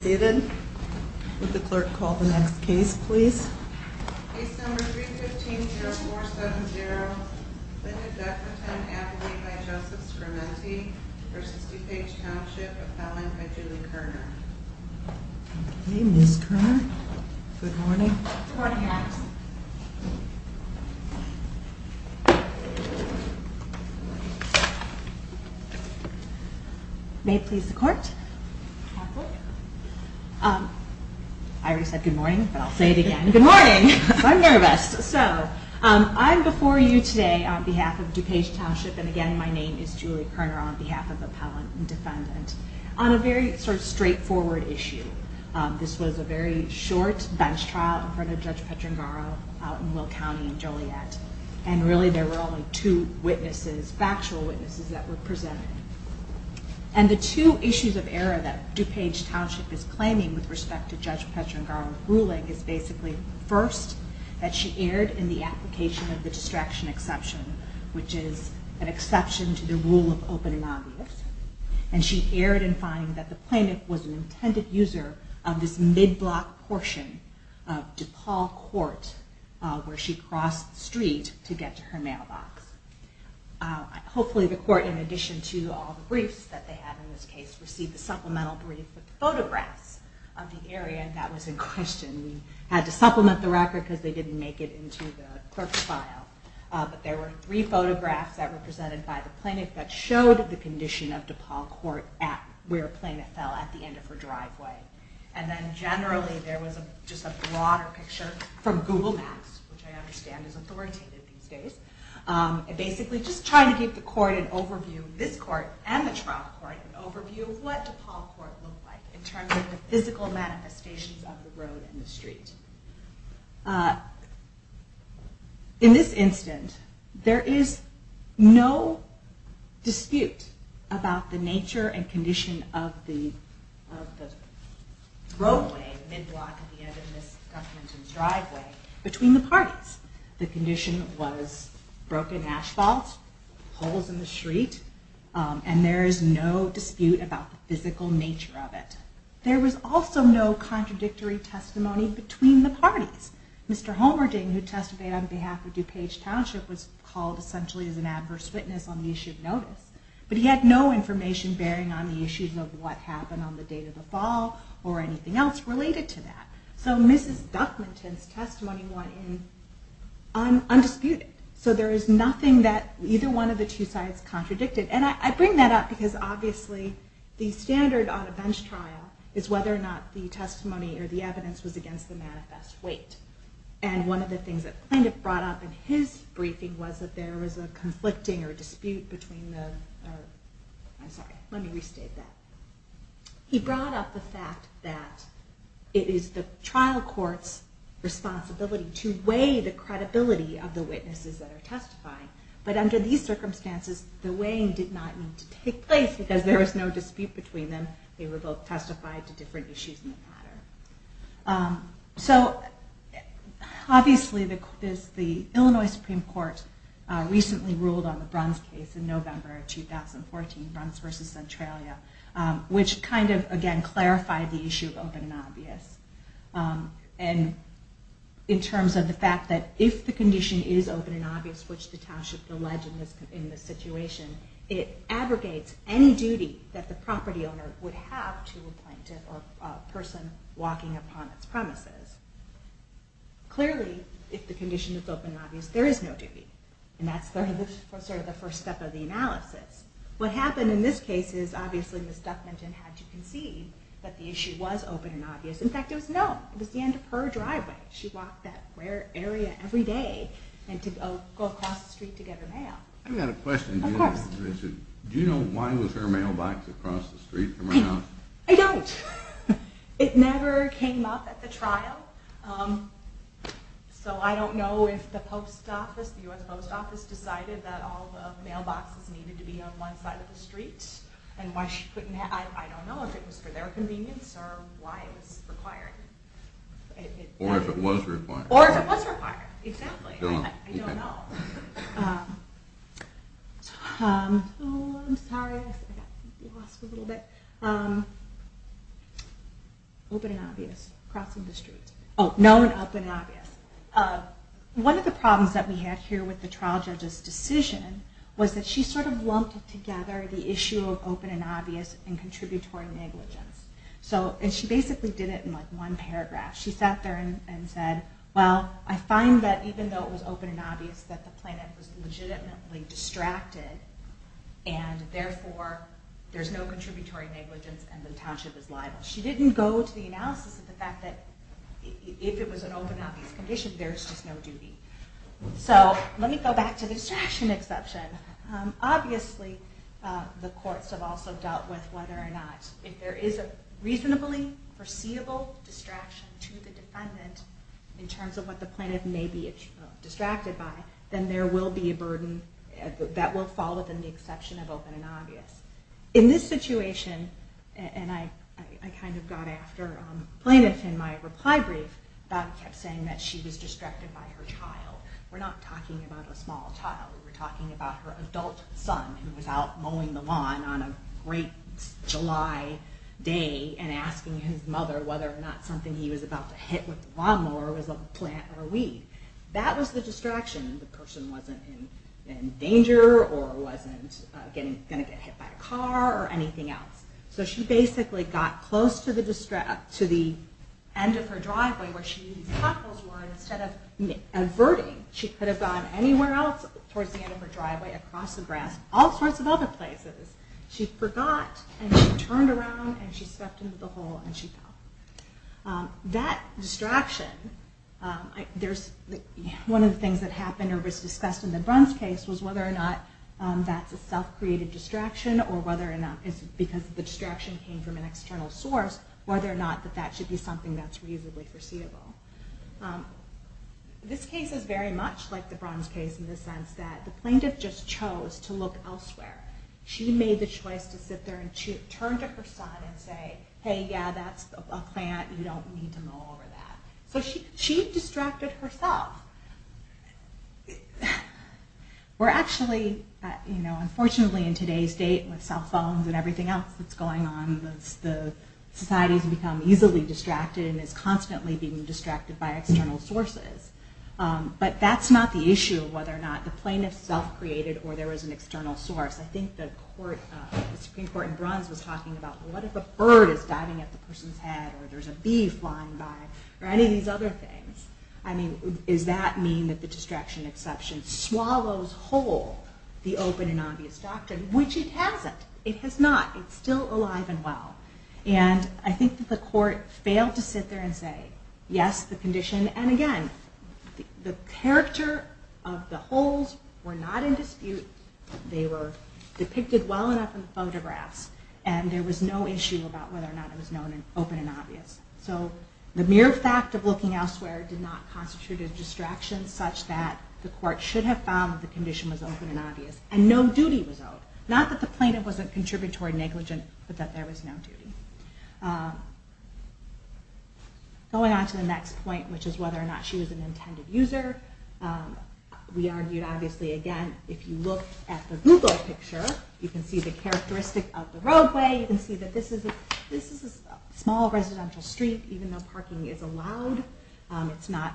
David, would the clerk call the next case, please? Case number 315-0470, Lynda Beckleton-Appleby v. Joseph Scramenti v. DuPage Township, appellant by Julie Kerner Okay, Ms. Kerner, good morning. Good morning, Ma'am. May it please the court. I already said good morning, but I'll say it again. Good morning! I'm nervous. So, I'm before you today on behalf of DuPage Township, and again, my name is Julie Kerner, on behalf of the appellant and defendant, on a very sort of straightforward issue. This was a very short bench trial in front of Judge Petrangaro out in Will County in Joliet, and really there were only two witnesses, factual witnesses, that were presented. And the two issues of error that DuPage Township is claiming with respect to Judge Petrangaro's ruling is basically, first, that she erred in the application of the distraction exception, which is an exception to the rule of open and obvious, and she erred in finding that the plaintiff was an intended user of this mid-block portion of DePaul Court, where she crossed the street to get to her mailbox. Hopefully the court, in addition to all the briefs that they had in this case, received a supplemental brief with photographs of the area that was in question. We had to supplement the record because they didn't make it into the clerk's file, but there were three photographs that were presented by the plaintiff that showed the condition of DePaul Court where the plaintiff fell at the end of her driveway. And then generally there was just a broader picture from Google Maps, which I understand is authoritative these days, and basically just trying to give the court an overview, this court and the trial court, an overview of what DePaul Court looked like in terms of the physical manifestations of the road and the street. In this instance, there is no dispute about the nature and condition of the roadway, mid-block at the end of Ms. Duffington's driveway, between the parties. The condition was broken asphalt, holes in the street, and there is no dispute about the physical nature of it. There was also no contradictory testimony between the parties. Mr. Homerding, who testified on behalf of DuPage Township, was called essentially as an adverse witness on the issue of notice. But he had no information bearing on the issues of what happened on the date of the fall or anything else related to that. So Mrs. Duffington's testimony went in undisputed. So there is nothing that either one of the two sides contradicted. And I bring that up because obviously the standard on a bench trial is whether or not the testimony or the evidence was against the manifest weight. And one of the things that Plaintiff brought up in his briefing was that there was a conflicting or dispute between the... I'm sorry, let me restate that. He brought up the fact that it is the trial court's responsibility to weigh the credibility of the witnesses that are testifying. But under these circumstances, the weighing did not need to take place because there was no dispute between them. They were both testified to different issues in the matter. So obviously the Illinois Supreme Court recently ruled on the Bruns case in November of 2014, Bruns v. Centralia, which kind of again clarified the issue of open and obvious. And in terms of the fact that if the condition is open and obvious, which the township alleged in this situation, it abrogates any duty that the property owner would have to a plaintiff or person walking upon its premises. Clearly, if the condition is open and obvious, there is no duty. And that's sort of the first step of the analysis. What happened in this case is obviously Ms. Duffminton had to concede that the issue was open and obvious. In fact, it was known. It was the end of her driveway. She walked that area every day to go across the street to get her mail. I've got a question. Do you know why was her mailbox across the street from her house? I don't. It never came up at the trial. So I don't know if the U.S. Post Office decided that all the mailboxes needed to be on one side of the street. I don't know if it was for their convenience or why it was required. Or if it was required. Or if it was required. Exactly. I don't know. Oh, I'm sorry. I got lost a little bit. Open and obvious. Crossing the street. Oh, known, open, and obvious. One of the problems that we had here with the trial judge's decision was that she sort of lumped together the issue of open and obvious and contributory negligence. And she basically did it in one paragraph. She sat there and said, well, I find that even though it was open and obvious that the plaintiff was legitimately distracted, and therefore there's no contributory negligence and the township is liable. She didn't go to the analysis of the fact that if it was an open and obvious condition, there's just no duty. So let me go back to the distraction exception. Obviously the courts have also dealt with whether or not if there is a reasonably foreseeable distraction to the defendant in terms of what the plaintiff may be distracted by, then there will be a burden that will fall within the exception of open and obvious. In this situation, and I kind of got after the plaintiff in my reply brief, Bob kept saying that she was distracted by her child. We're not talking about a small child. We're talking about her adult son who was out mowing the lawn on a great July day and asking his mother whether or not something he was about to hit with the lawnmower was a plant or a weed. That was the distraction. The person wasn't in danger or wasn't going to get hit by a car or anything else. So she basically got close to the end of her driveway where she knew these potholes were and instead of averting, she could have gone anywhere else towards the end of her driveway, across the grass, all sorts of other places. She forgot and she turned around and she stepped into the hole and she fell. That distraction, one of the things that happened or was discussed in the Bruns case was whether or not that's a self-created distraction because the distraction came from an external source, whether or not that should be something that's reasonably foreseeable. This case is very much like the Bruns case in the sense that the plaintiff just chose to look elsewhere. She made the choice to sit there and turn to her son and say, hey, yeah, that's a plant. You don't need to mow over that. So she distracted herself. We're actually, unfortunately in today's state with cell phones and everything else that's going on, society has become easily distracted and is constantly being distracted by external sources. But that's not the issue of whether or not the plaintiff self-created or there was an external source. I think the Supreme Court in Bruns was talking about what if a bird is diving at the person's head or there's a bee flying by or any of these other things. I mean, does that mean that the distraction exception swallows whole the open and obvious doctrine? Which it hasn't. It has not. It's still alive and well. And I think that the court failed to sit there and say, yes, the condition. And again, the character of the holes were not in dispute. They were depicted well enough in the photographs. And there was no issue about whether or not it was known and open and obvious. So the mere fact of looking elsewhere did not constitute a distraction such that the court should have found the condition was open and obvious. And no duty was owed. Not that the plaintiff was a contributory negligent, but that there was no duty. Going on to the next point, which is whether or not she was an intended user. We argued, obviously, again, if you look at the Google picture, you can see the characteristic of the roadway. You can see that this is a small residential street, even though parking is allowed. It's not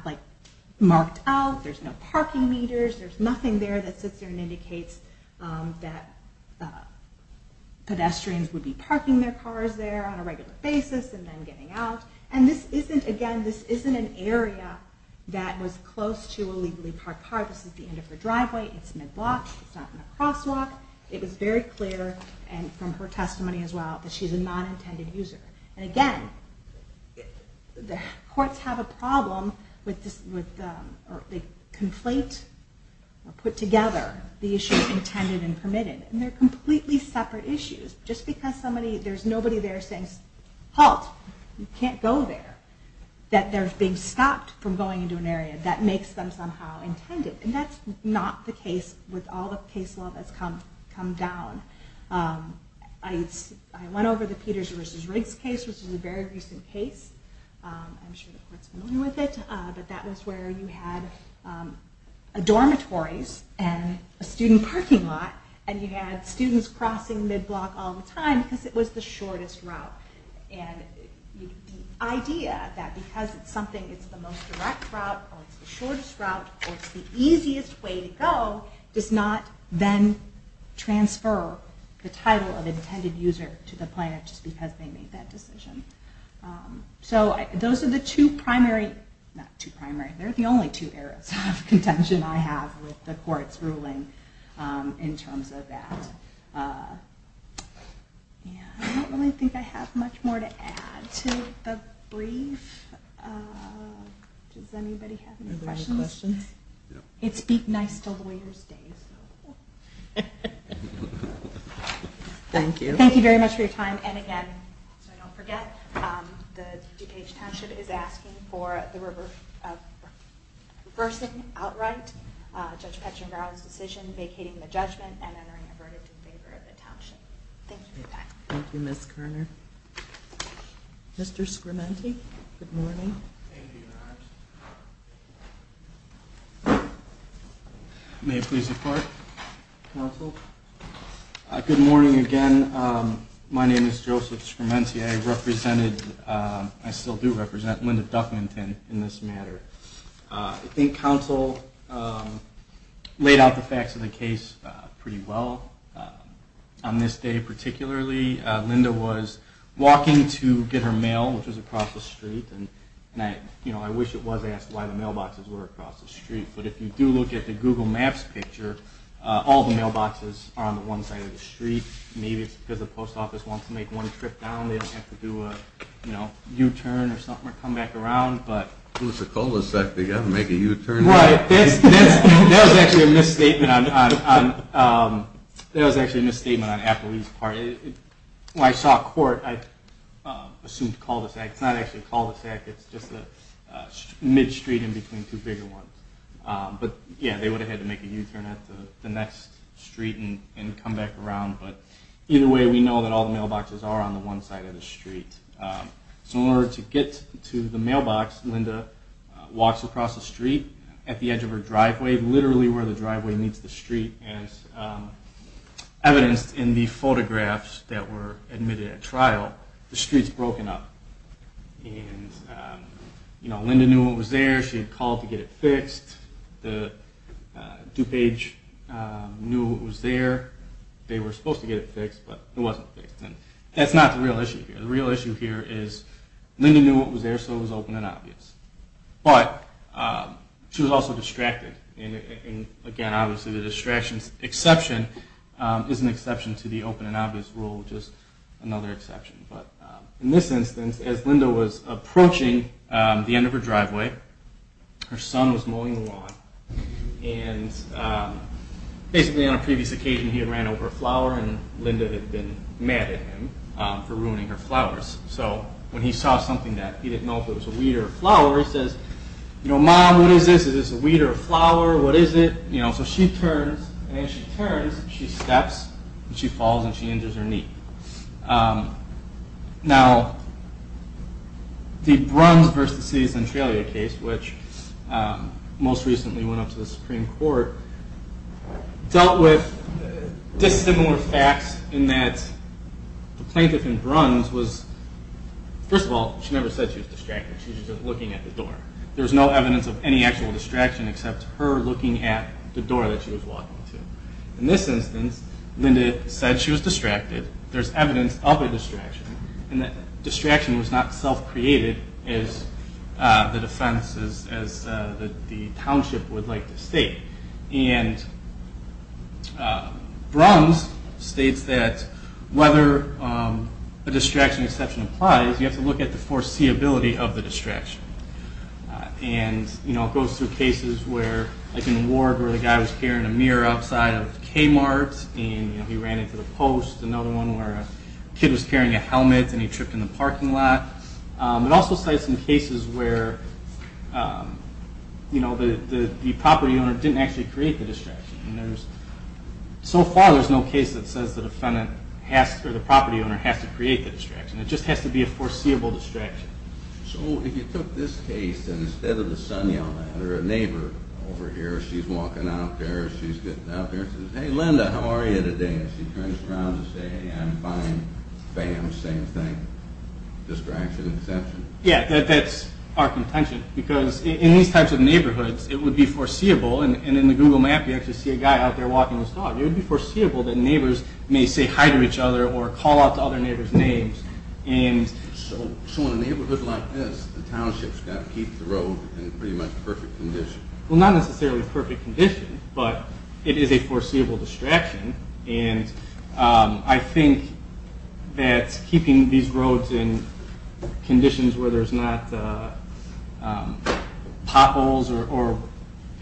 marked out. There's no parking meters. There's nothing there that sits there and indicates that pedestrians would be parking their cars there on a regular basis and then getting out. And this isn't, again, this isn't an area that was close to a legally parked car. This is the end of her driveway. It's mid-block. It's not in a crosswalk. It was very clear, and from her testimony as well, that she's a non-intended user. And again, the courts have a problem with, they conflate or put together the issue of intended and permitted. And they're completely separate issues. Just because there's nobody there saying, halt, you can't go there, that they're being stopped from going into an area that makes them somehow intended. And that's not the case with all the case law that's come down. I went over the Peters v. Riggs case, which is a very recent case. I'm sure the court's familiar with it. But that was where you had dormitories and a student parking lot, and you had students crossing mid-block all the time because it was the shortest route. And the idea that because it's something, it's the most direct route, or it's the shortest route, or it's the easiest way to go, does not then transfer the title of intended user to the planner just because they made that decision. So those are the two primary, not two primary. They're the only two areas of contention I have with the court's ruling in terms of that. I don't really think I have much more to add to the brief. Does anybody have any questions? It's beat nice till the waiter's day. Thank you. Thank you very much for your time. And again, so I don't forget, the DuPage Township is asking for the reversing outright Judge Petchenbrough's decision, vacating the judgment, and entering a verdict in favor of the township. Thank you for that. Thank you, Ms. Kerner. Mr. Scramenti, good morning. Thank you, Your Honor. May it please the Court, counsel? Good morning again. My name is Joseph Scramenti. I represented, I still do represent, Linda Duffington in this matter. I think counsel laid out the facts of the case pretty well. On this day particularly, Linda was walking to get her mail, which was across the street. And I wish it was asked why the mailboxes were across the street. But if you do look at the Google Maps picture, all the mailboxes are on the one side of the street. Maybe it's because the post office wants to make one trip down. They don't have to do a U-turn or something or come back around. If it's a cul-de-sac, they've got to make a U-turn. Right. That was actually a misstatement on Appleby's part. When I saw a court, I assumed cul-de-sac. It's not actually a cul-de-sac. It's just a mid-street in between two bigger ones. But, yeah, they would have had to make a U-turn at the next street and come back around. But either way, we know that all the mailboxes are on the one side of the street. So in order to get to the mailbox, Linda walks across the street at the edge of her driveway, literally where the driveway meets the street, as evidenced in the photographs that were admitted at trial. The street's broken up. And, you know, Linda knew what was there. She had called to get it fixed. The DuPage knew what was there. They were supposed to get it fixed, but it wasn't fixed. And that's not the real issue here. The real issue here is Linda knew what was there, so it was open and obvious. But she was also distracted. And, again, obviously the distraction's exception is an exception to the open and obvious rule, just another exception. But in this instance, as Linda was approaching the end of her driveway, her son was mowing the lawn. And basically on a previous occasion, he had ran over a flower, and Linda had been mad at him for ruining her flowers. So when he saw something that he didn't know if it was a weed or a flower, he says, you know, Mom, what is this? Is this a weed or a flower? What is it? So she turns, and as she turns, she steps, and she falls, and she injures her knee. Now, the Bruns v. the City of Centralia case, which most recently went up to the Supreme Court, dealt with dissimilar facts in that the plaintiff in Bruns was, first of all, she never said she was distracted. She was just looking at the door. There was no evidence of any actual distraction except her looking at the door that she was walking to. In this instance, Linda said she was distracted. There's evidence of a distraction, and that distraction was not self-created as the defense, as the township would like to state. And Bruns states that whether a distraction exception applies, you have to look at the foreseeability of the distraction. And, you know, it goes through cases where, like in Ward, where the guy was carrying a mirror outside of Kmart, and he ran into the post. Another one where a kid was carrying a helmet, and he tripped in the parking lot. It also cites some cases where, you know, the property owner didn't actually create the distraction. So far, there's no case that says the defendant has to, or the property owner has to create the distraction. It just has to be a foreseeable distraction. So if you took this case, and instead of the son yelling at her, a neighbor over here, she's walking out there, she's getting out there, and says, Hey, Linda, how are you today? And she turns around and says, Hey, I'm fine. Bam, same thing. Distraction exception. Yeah, that's our contention. Because in these types of neighborhoods, it would be foreseeable, and in the Google map, you actually see a guy out there walking his dog. It would be foreseeable that neighbors may say hi to each other or call out to other neighbors' names. So in a neighborhood like this, the township's got to keep the road in pretty much perfect condition. Well, not necessarily perfect condition, but it is a foreseeable distraction, and I think that keeping these roads in conditions where there's not potholes or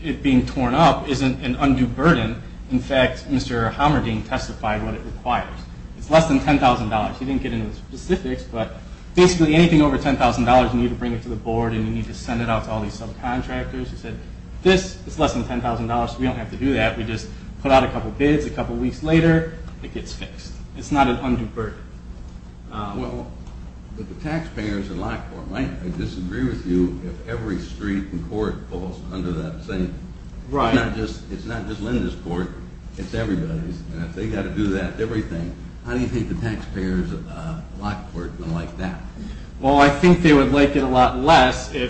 it being torn up isn't an undue burden. In fact, Mr. Homerding testified what it requires. It's less than $10,000. He didn't get into the specifics, but basically anything over $10,000, you need to bring it to the board, and you need to send it out to all these subcontractors. He said, This is less than $10,000, so we don't have to do that. We just put out a couple bids. A couple weeks later, it gets fixed. It's not an undue burden. Well, the taxpayers in Lockport might disagree with you if every street and court falls under that same. Right. It's not just Linda's court. It's everybody's. They've got to do that, everything. How do you think the taxpayers of Lockport are going to like that? Well, I think they would like it a lot less if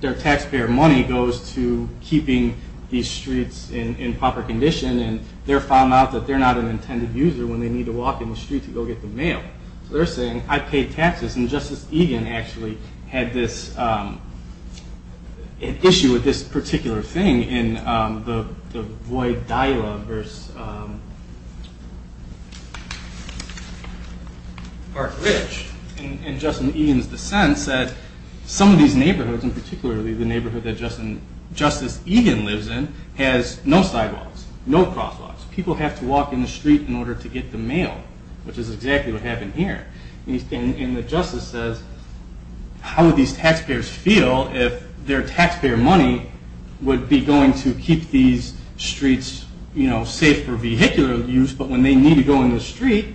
their taxpayer money goes to keeping these streets in proper condition, and they're found out that they're not an intended user when they need to walk in the street to go get the mail. So they're saying, I pay taxes, and Justice Egan actually had this issue with this particular thing in the Void Dialogue versus Park Ridge. And Justice Egan's dissent said, Some of these neighborhoods, and particularly the neighborhood that Justice Egan lives in, has no sidewalks, no crosswalks. People have to walk in the street in order to get the mail, which is exactly what happened here. And the justice says, How would these taxpayers feel if their taxpayer money would be going to keep these streets safe for vehicular use, but when they need to go in the street,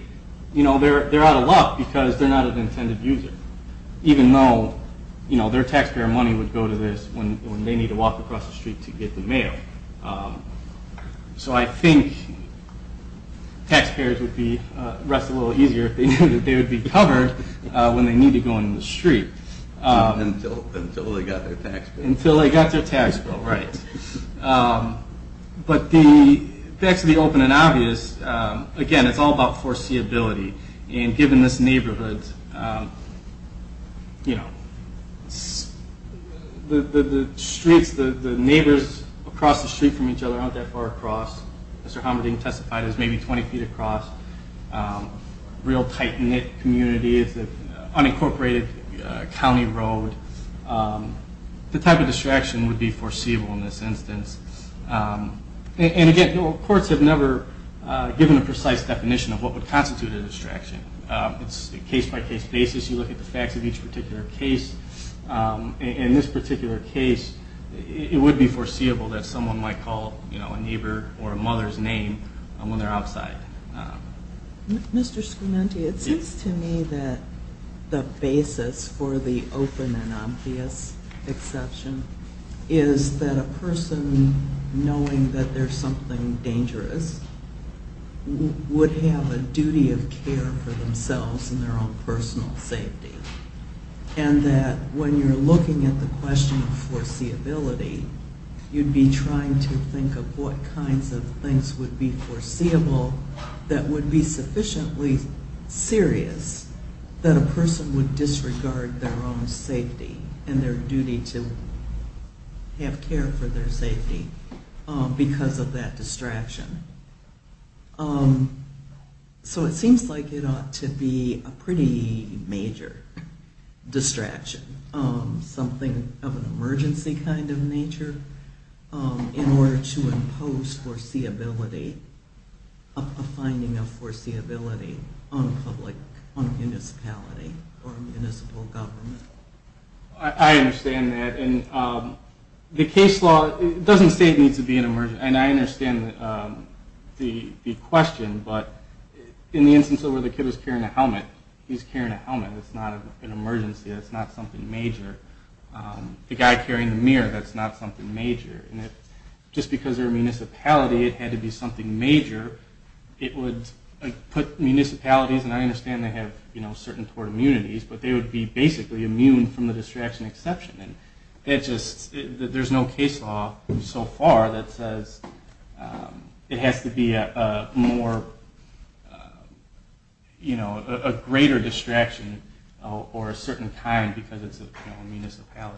they're out of luck because they're not an intended user, even though their taxpayer money would go to this when they need to walk across the street to get the mail. So I think taxpayers would rest a little easier if they knew that they would be covered when they need to go in the street. Until they got their tax bill. Until they got their tax bill, right. But to be open and obvious, again, it's all about foreseeability. And given this neighborhood, you know, the streets, the neighbors across the street from each other aren't that far across. Mr. Homerding testified it was maybe 20 feet across. Real tight-knit community. It's an unincorporated county road. The type of distraction would be foreseeable in this instance. And again, courts have never given a precise definition of what would constitute a distraction. It's a case-by-case basis. You look at the facts of each particular case. In this particular case, it would be foreseeable that someone might call, you know, a neighbor or a mother's name when they're outside. Mr. Scomenti, it seems to me that the basis for the open and obvious exception is that a person knowing that there's something dangerous would have a duty of care for themselves and their own personal safety. And that when you're looking at the question of foreseeability, you'd be trying to think of what kinds of things would be foreseeable that would be sufficiently serious that a person would disregard their own safety and their duty to have care for their safety because of that distraction. So it seems like it ought to be a pretty major distraction, something of an emergency kind of nature, in order to impose a finding of foreseeability on a public, on a municipality or a municipal government. I understand that. And the case law doesn't say it needs to be an emergency. And I understand the question, but in the instance where the kid is carrying a helmet, he's carrying a helmet. That's not an emergency. That's not something major. The guy carrying the mirror, that's not something major. And just because they're a municipality, it had to be something major. It would put municipalities, and I understand they have certain tort immunities, but they would be basically immune from the distraction exception. And there's no case law so far that says it has to be a greater distraction or a certain kind because it's a municipality.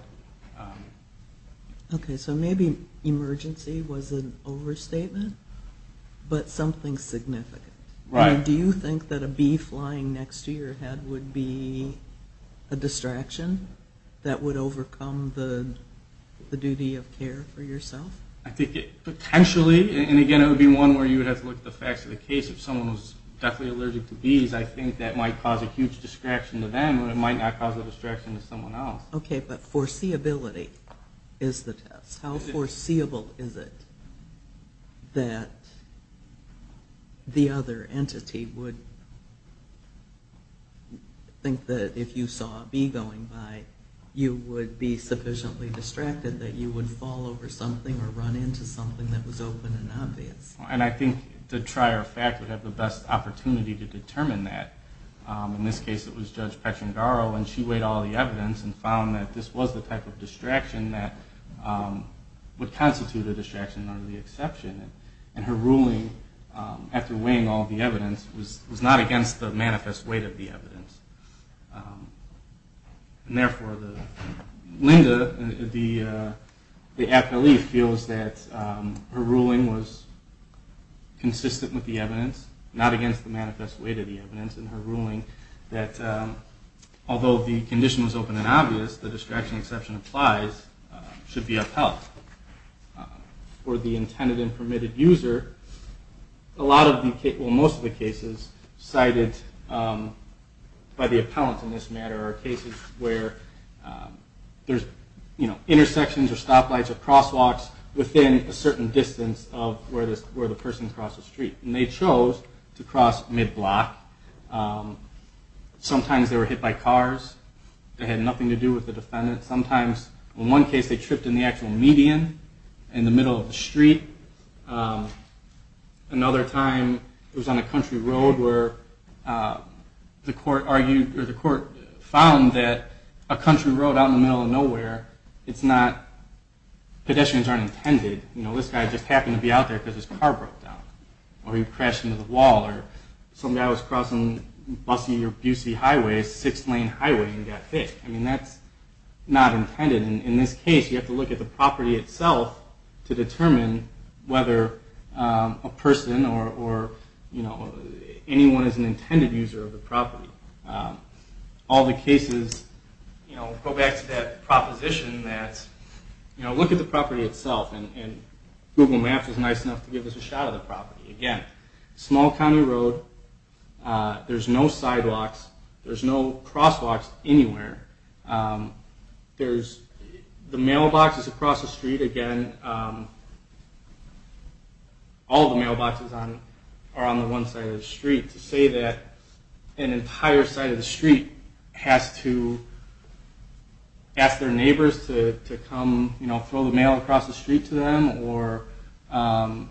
Okay. So maybe emergency was an overstatement, but something significant. Right. Do you think that a bee flying next to your head would be a distraction that would overcome the duty of care for yourself? I think it potentially, and again, it would be one where you would have to look at the facts of the case. If someone was definitely allergic to bees, I think that might cause a huge distraction to them, but it might not cause a distraction to someone else. Okay, but foreseeability is the test. How foreseeable is it that the other entity would think that if you saw a bee going by, you would be sufficiently distracted that you would fall over something or run into something that was open and obvious? And I think the trier of fact would have the best opportunity to determine that. In this case, it was Judge Petrangaro, and she weighed all the evidence and found that this was the type of distraction that would constitute a distraction under the exception. And her ruling, after weighing all the evidence, was not against the manifest weight of the evidence. And therefore, Linda, the appellee, feels that her ruling was consistent with the evidence, not against the manifest weight of the evidence, and her ruling that although the condition was open and obvious, the distraction exception applies, should be upheld. For the intended and permitted user, most of the cases cited by the appellant in this matter are cases where there's intersections or stoplights or crosswalks within a certain distance of where the person crossed the street. And they chose to cross mid-block. Sometimes they were hit by cars that had nothing to do with the defendant. Sometimes, in one case, they tripped in the actual median, in the middle of the street. Another time, it was on a country road where the court argued or the court found that a country road out in the middle of nowhere, pedestrians aren't intended. You know, this guy just happened to be out there because his car broke down or he crashed into the wall or some guy was crossing Bussey or Bussey Highway, a six-lane highway, and got hit. I mean, that's not intended. In this case, you have to look at the property itself to determine whether a person or, you know, anyone is an intended user of the property. All the cases, you know, go back to that proposition that, you know, look at the property itself. And Google Maps is nice enough to give us a shot of the property. Again, small county road. There's no sidewalks. There's no crosswalks anywhere. There's the mailboxes across the street. Again, all the mailboxes are on the one side of the street. To say that an entire side of the street has to ask their neighbors to come, you know, throw the mail across the street to them or go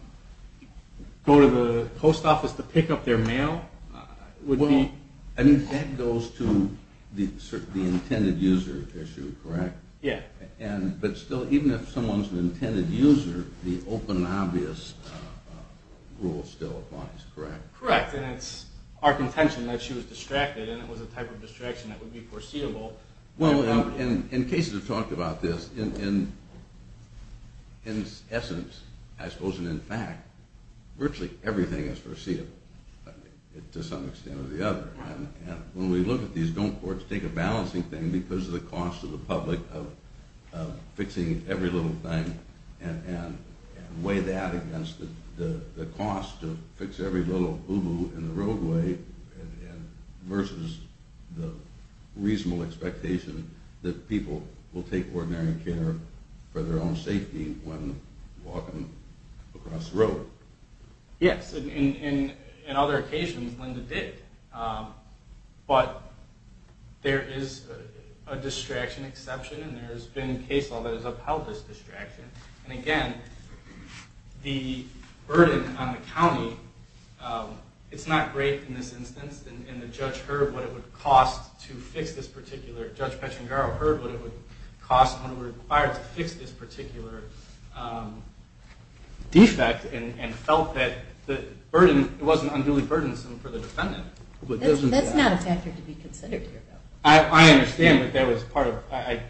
to the post office to pick up their mail would be... I mean, that goes to the intended user issue, correct? Yeah. But still, even if someone's an intended user, the open and obvious rule still applies, correct? Correct. And it's our contention that she was distracted and it was a type of distraction that would be foreseeable. Well, and cases have talked about this. In essence, I suppose, and in fact, virtually everything is foreseeable to some extent or the other. And when we look at these, don't courts take a balancing thing because of the cost to the public of fixing every little thing and weigh that against the cost to fix every little boo-boo in the roadway versus the reasonable expectation that people will take ordinary care for their own safety when walking across the road? Yes. In other occasions, Linda did. But there is a distraction exception, and there has been a case law that has upheld this distraction. And again, the burden on the county, it's not great in this instance. And the judge heard what it would cost to fix this particular... defect and felt that it wasn't unduly burdensome for the defendant. That's not a factor to be considered here, though. I understand that that was part of...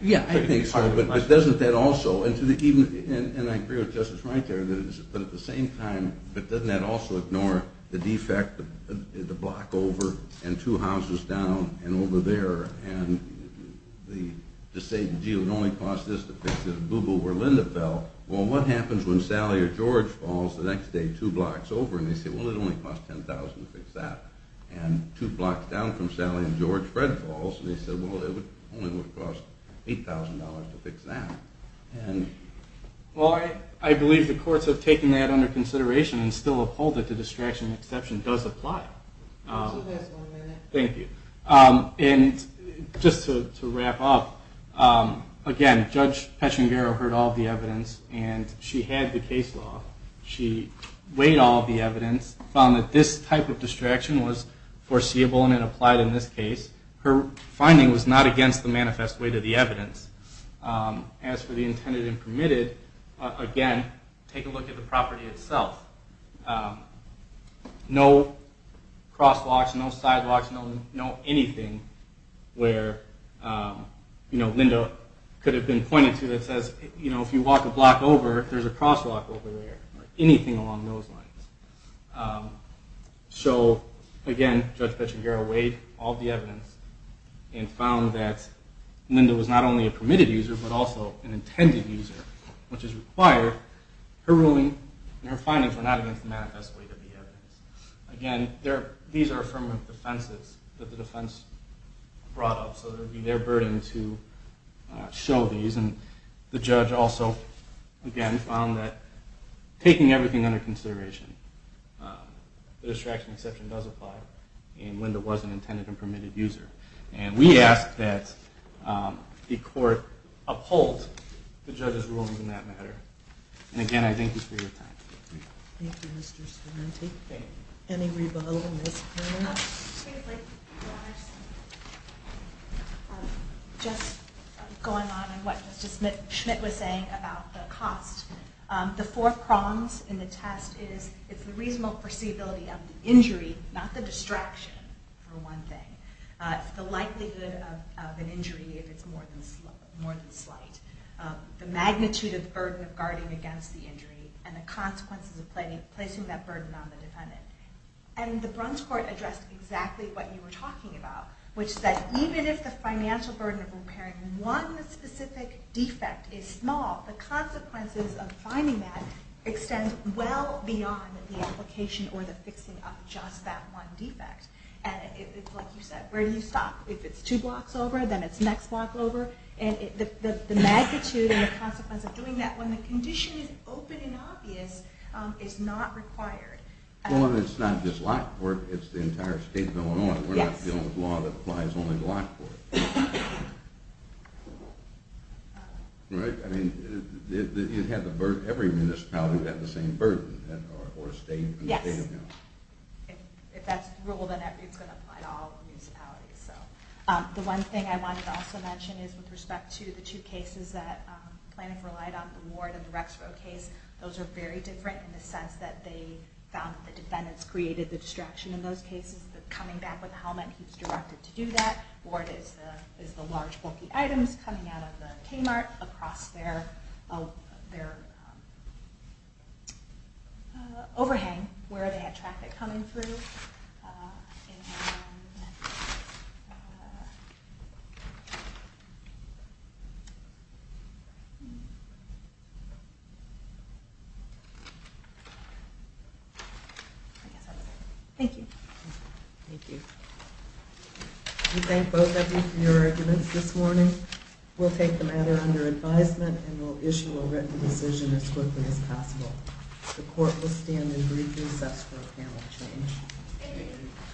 Yeah, I think so. But doesn't that also, and I agree with Justice Reiter, but at the same time, but doesn't that also ignore the defect, the block over and two houses down and over there, and just say, gee, it would only cost this to fix this boo-boo where Linda fell. Well, what happens when Sally or George falls the next day two blocks over? And they say, well, it would only cost $10,000 to fix that. And two blocks down from Sally and George, Fred falls, and they say, well, it only would cost $8,000 to fix that. Well, I believe the courts have taken that under consideration and still uphold that the distraction exception does apply. Just one minute. Thank you. And just to wrap up, again, Judge Pechengaro heard all of the evidence, and she had the case law. She weighed all of the evidence, found that this type of distraction was foreseeable and it applied in this case. Her finding was not against the manifest weight of the evidence. As for the intended and permitted, again, take a look at the property itself. No crosswalks, no sidewalks, no anything where Linda could have been pointed to that says, you know, if you walk a block over, there's a crosswalk over there or anything along those lines. So, again, Judge Pechengaro weighed all of the evidence and found that Linda was not only a permitted user but also an intended user, which is required. Her ruling and her findings were not against the manifest weight of the evidence. Again, these are affirmative defenses that the defense brought up, so it would be their burden to show these. And the judge also, again, found that taking everything under consideration, the distraction exception does apply, and Linda was an intended and permitted user. And we ask that the court uphold the judge's ruling on that matter. And, again, I thank you for your time. Thank you, Mr. Smith. Any rebuttals? Just going on what Mr. Smith was saying about the cost, the four prongs in the test is it's the reasonable foreseeability of the injury, not the distraction, for one thing. It's the likelihood of an injury if it's more than slight. The magnitude of the burden of guarding against the injury and the consequences of placing that burden on the defendant. And the Bruns Court addressed exactly what you were talking about, which is that even if the financial burden of repairing one specific defect is small, the consequences of finding that extend well beyond the application or the fixing of just that one defect. And it's like you said, where do you stop? If it's two blocks over, then it's the next block over. And the magnitude and the consequences of doing that when the condition is open and obvious is not required. Well, and it's not just Lockport. It's the entire state of Illinois. We're not dealing with law that applies only to Lockport. Right. I mean, every municipality would have the same burden or state of Illinois. Yes. If that's the rule, then it's going to apply to all municipalities. The one thing I wanted to also mention is with respect to the two cases that Planoff relied on, the Ward and the Rexborough case, those are very different in the sense that they found that the defendants created the distraction in those cases. Coming back with the helmet, he was directed to do that. Ward is the large bulky items coming out of the Kmart across their overhang where they had traffic coming through. Thank you. Thank you. We thank both of you for your arguments this morning. We'll take the matter under advisement and we'll issue a written decision as quickly as possible. The court will stand in brief recess for a panel change. Thank you. Thank you. Thank you. Thank you. Thank you.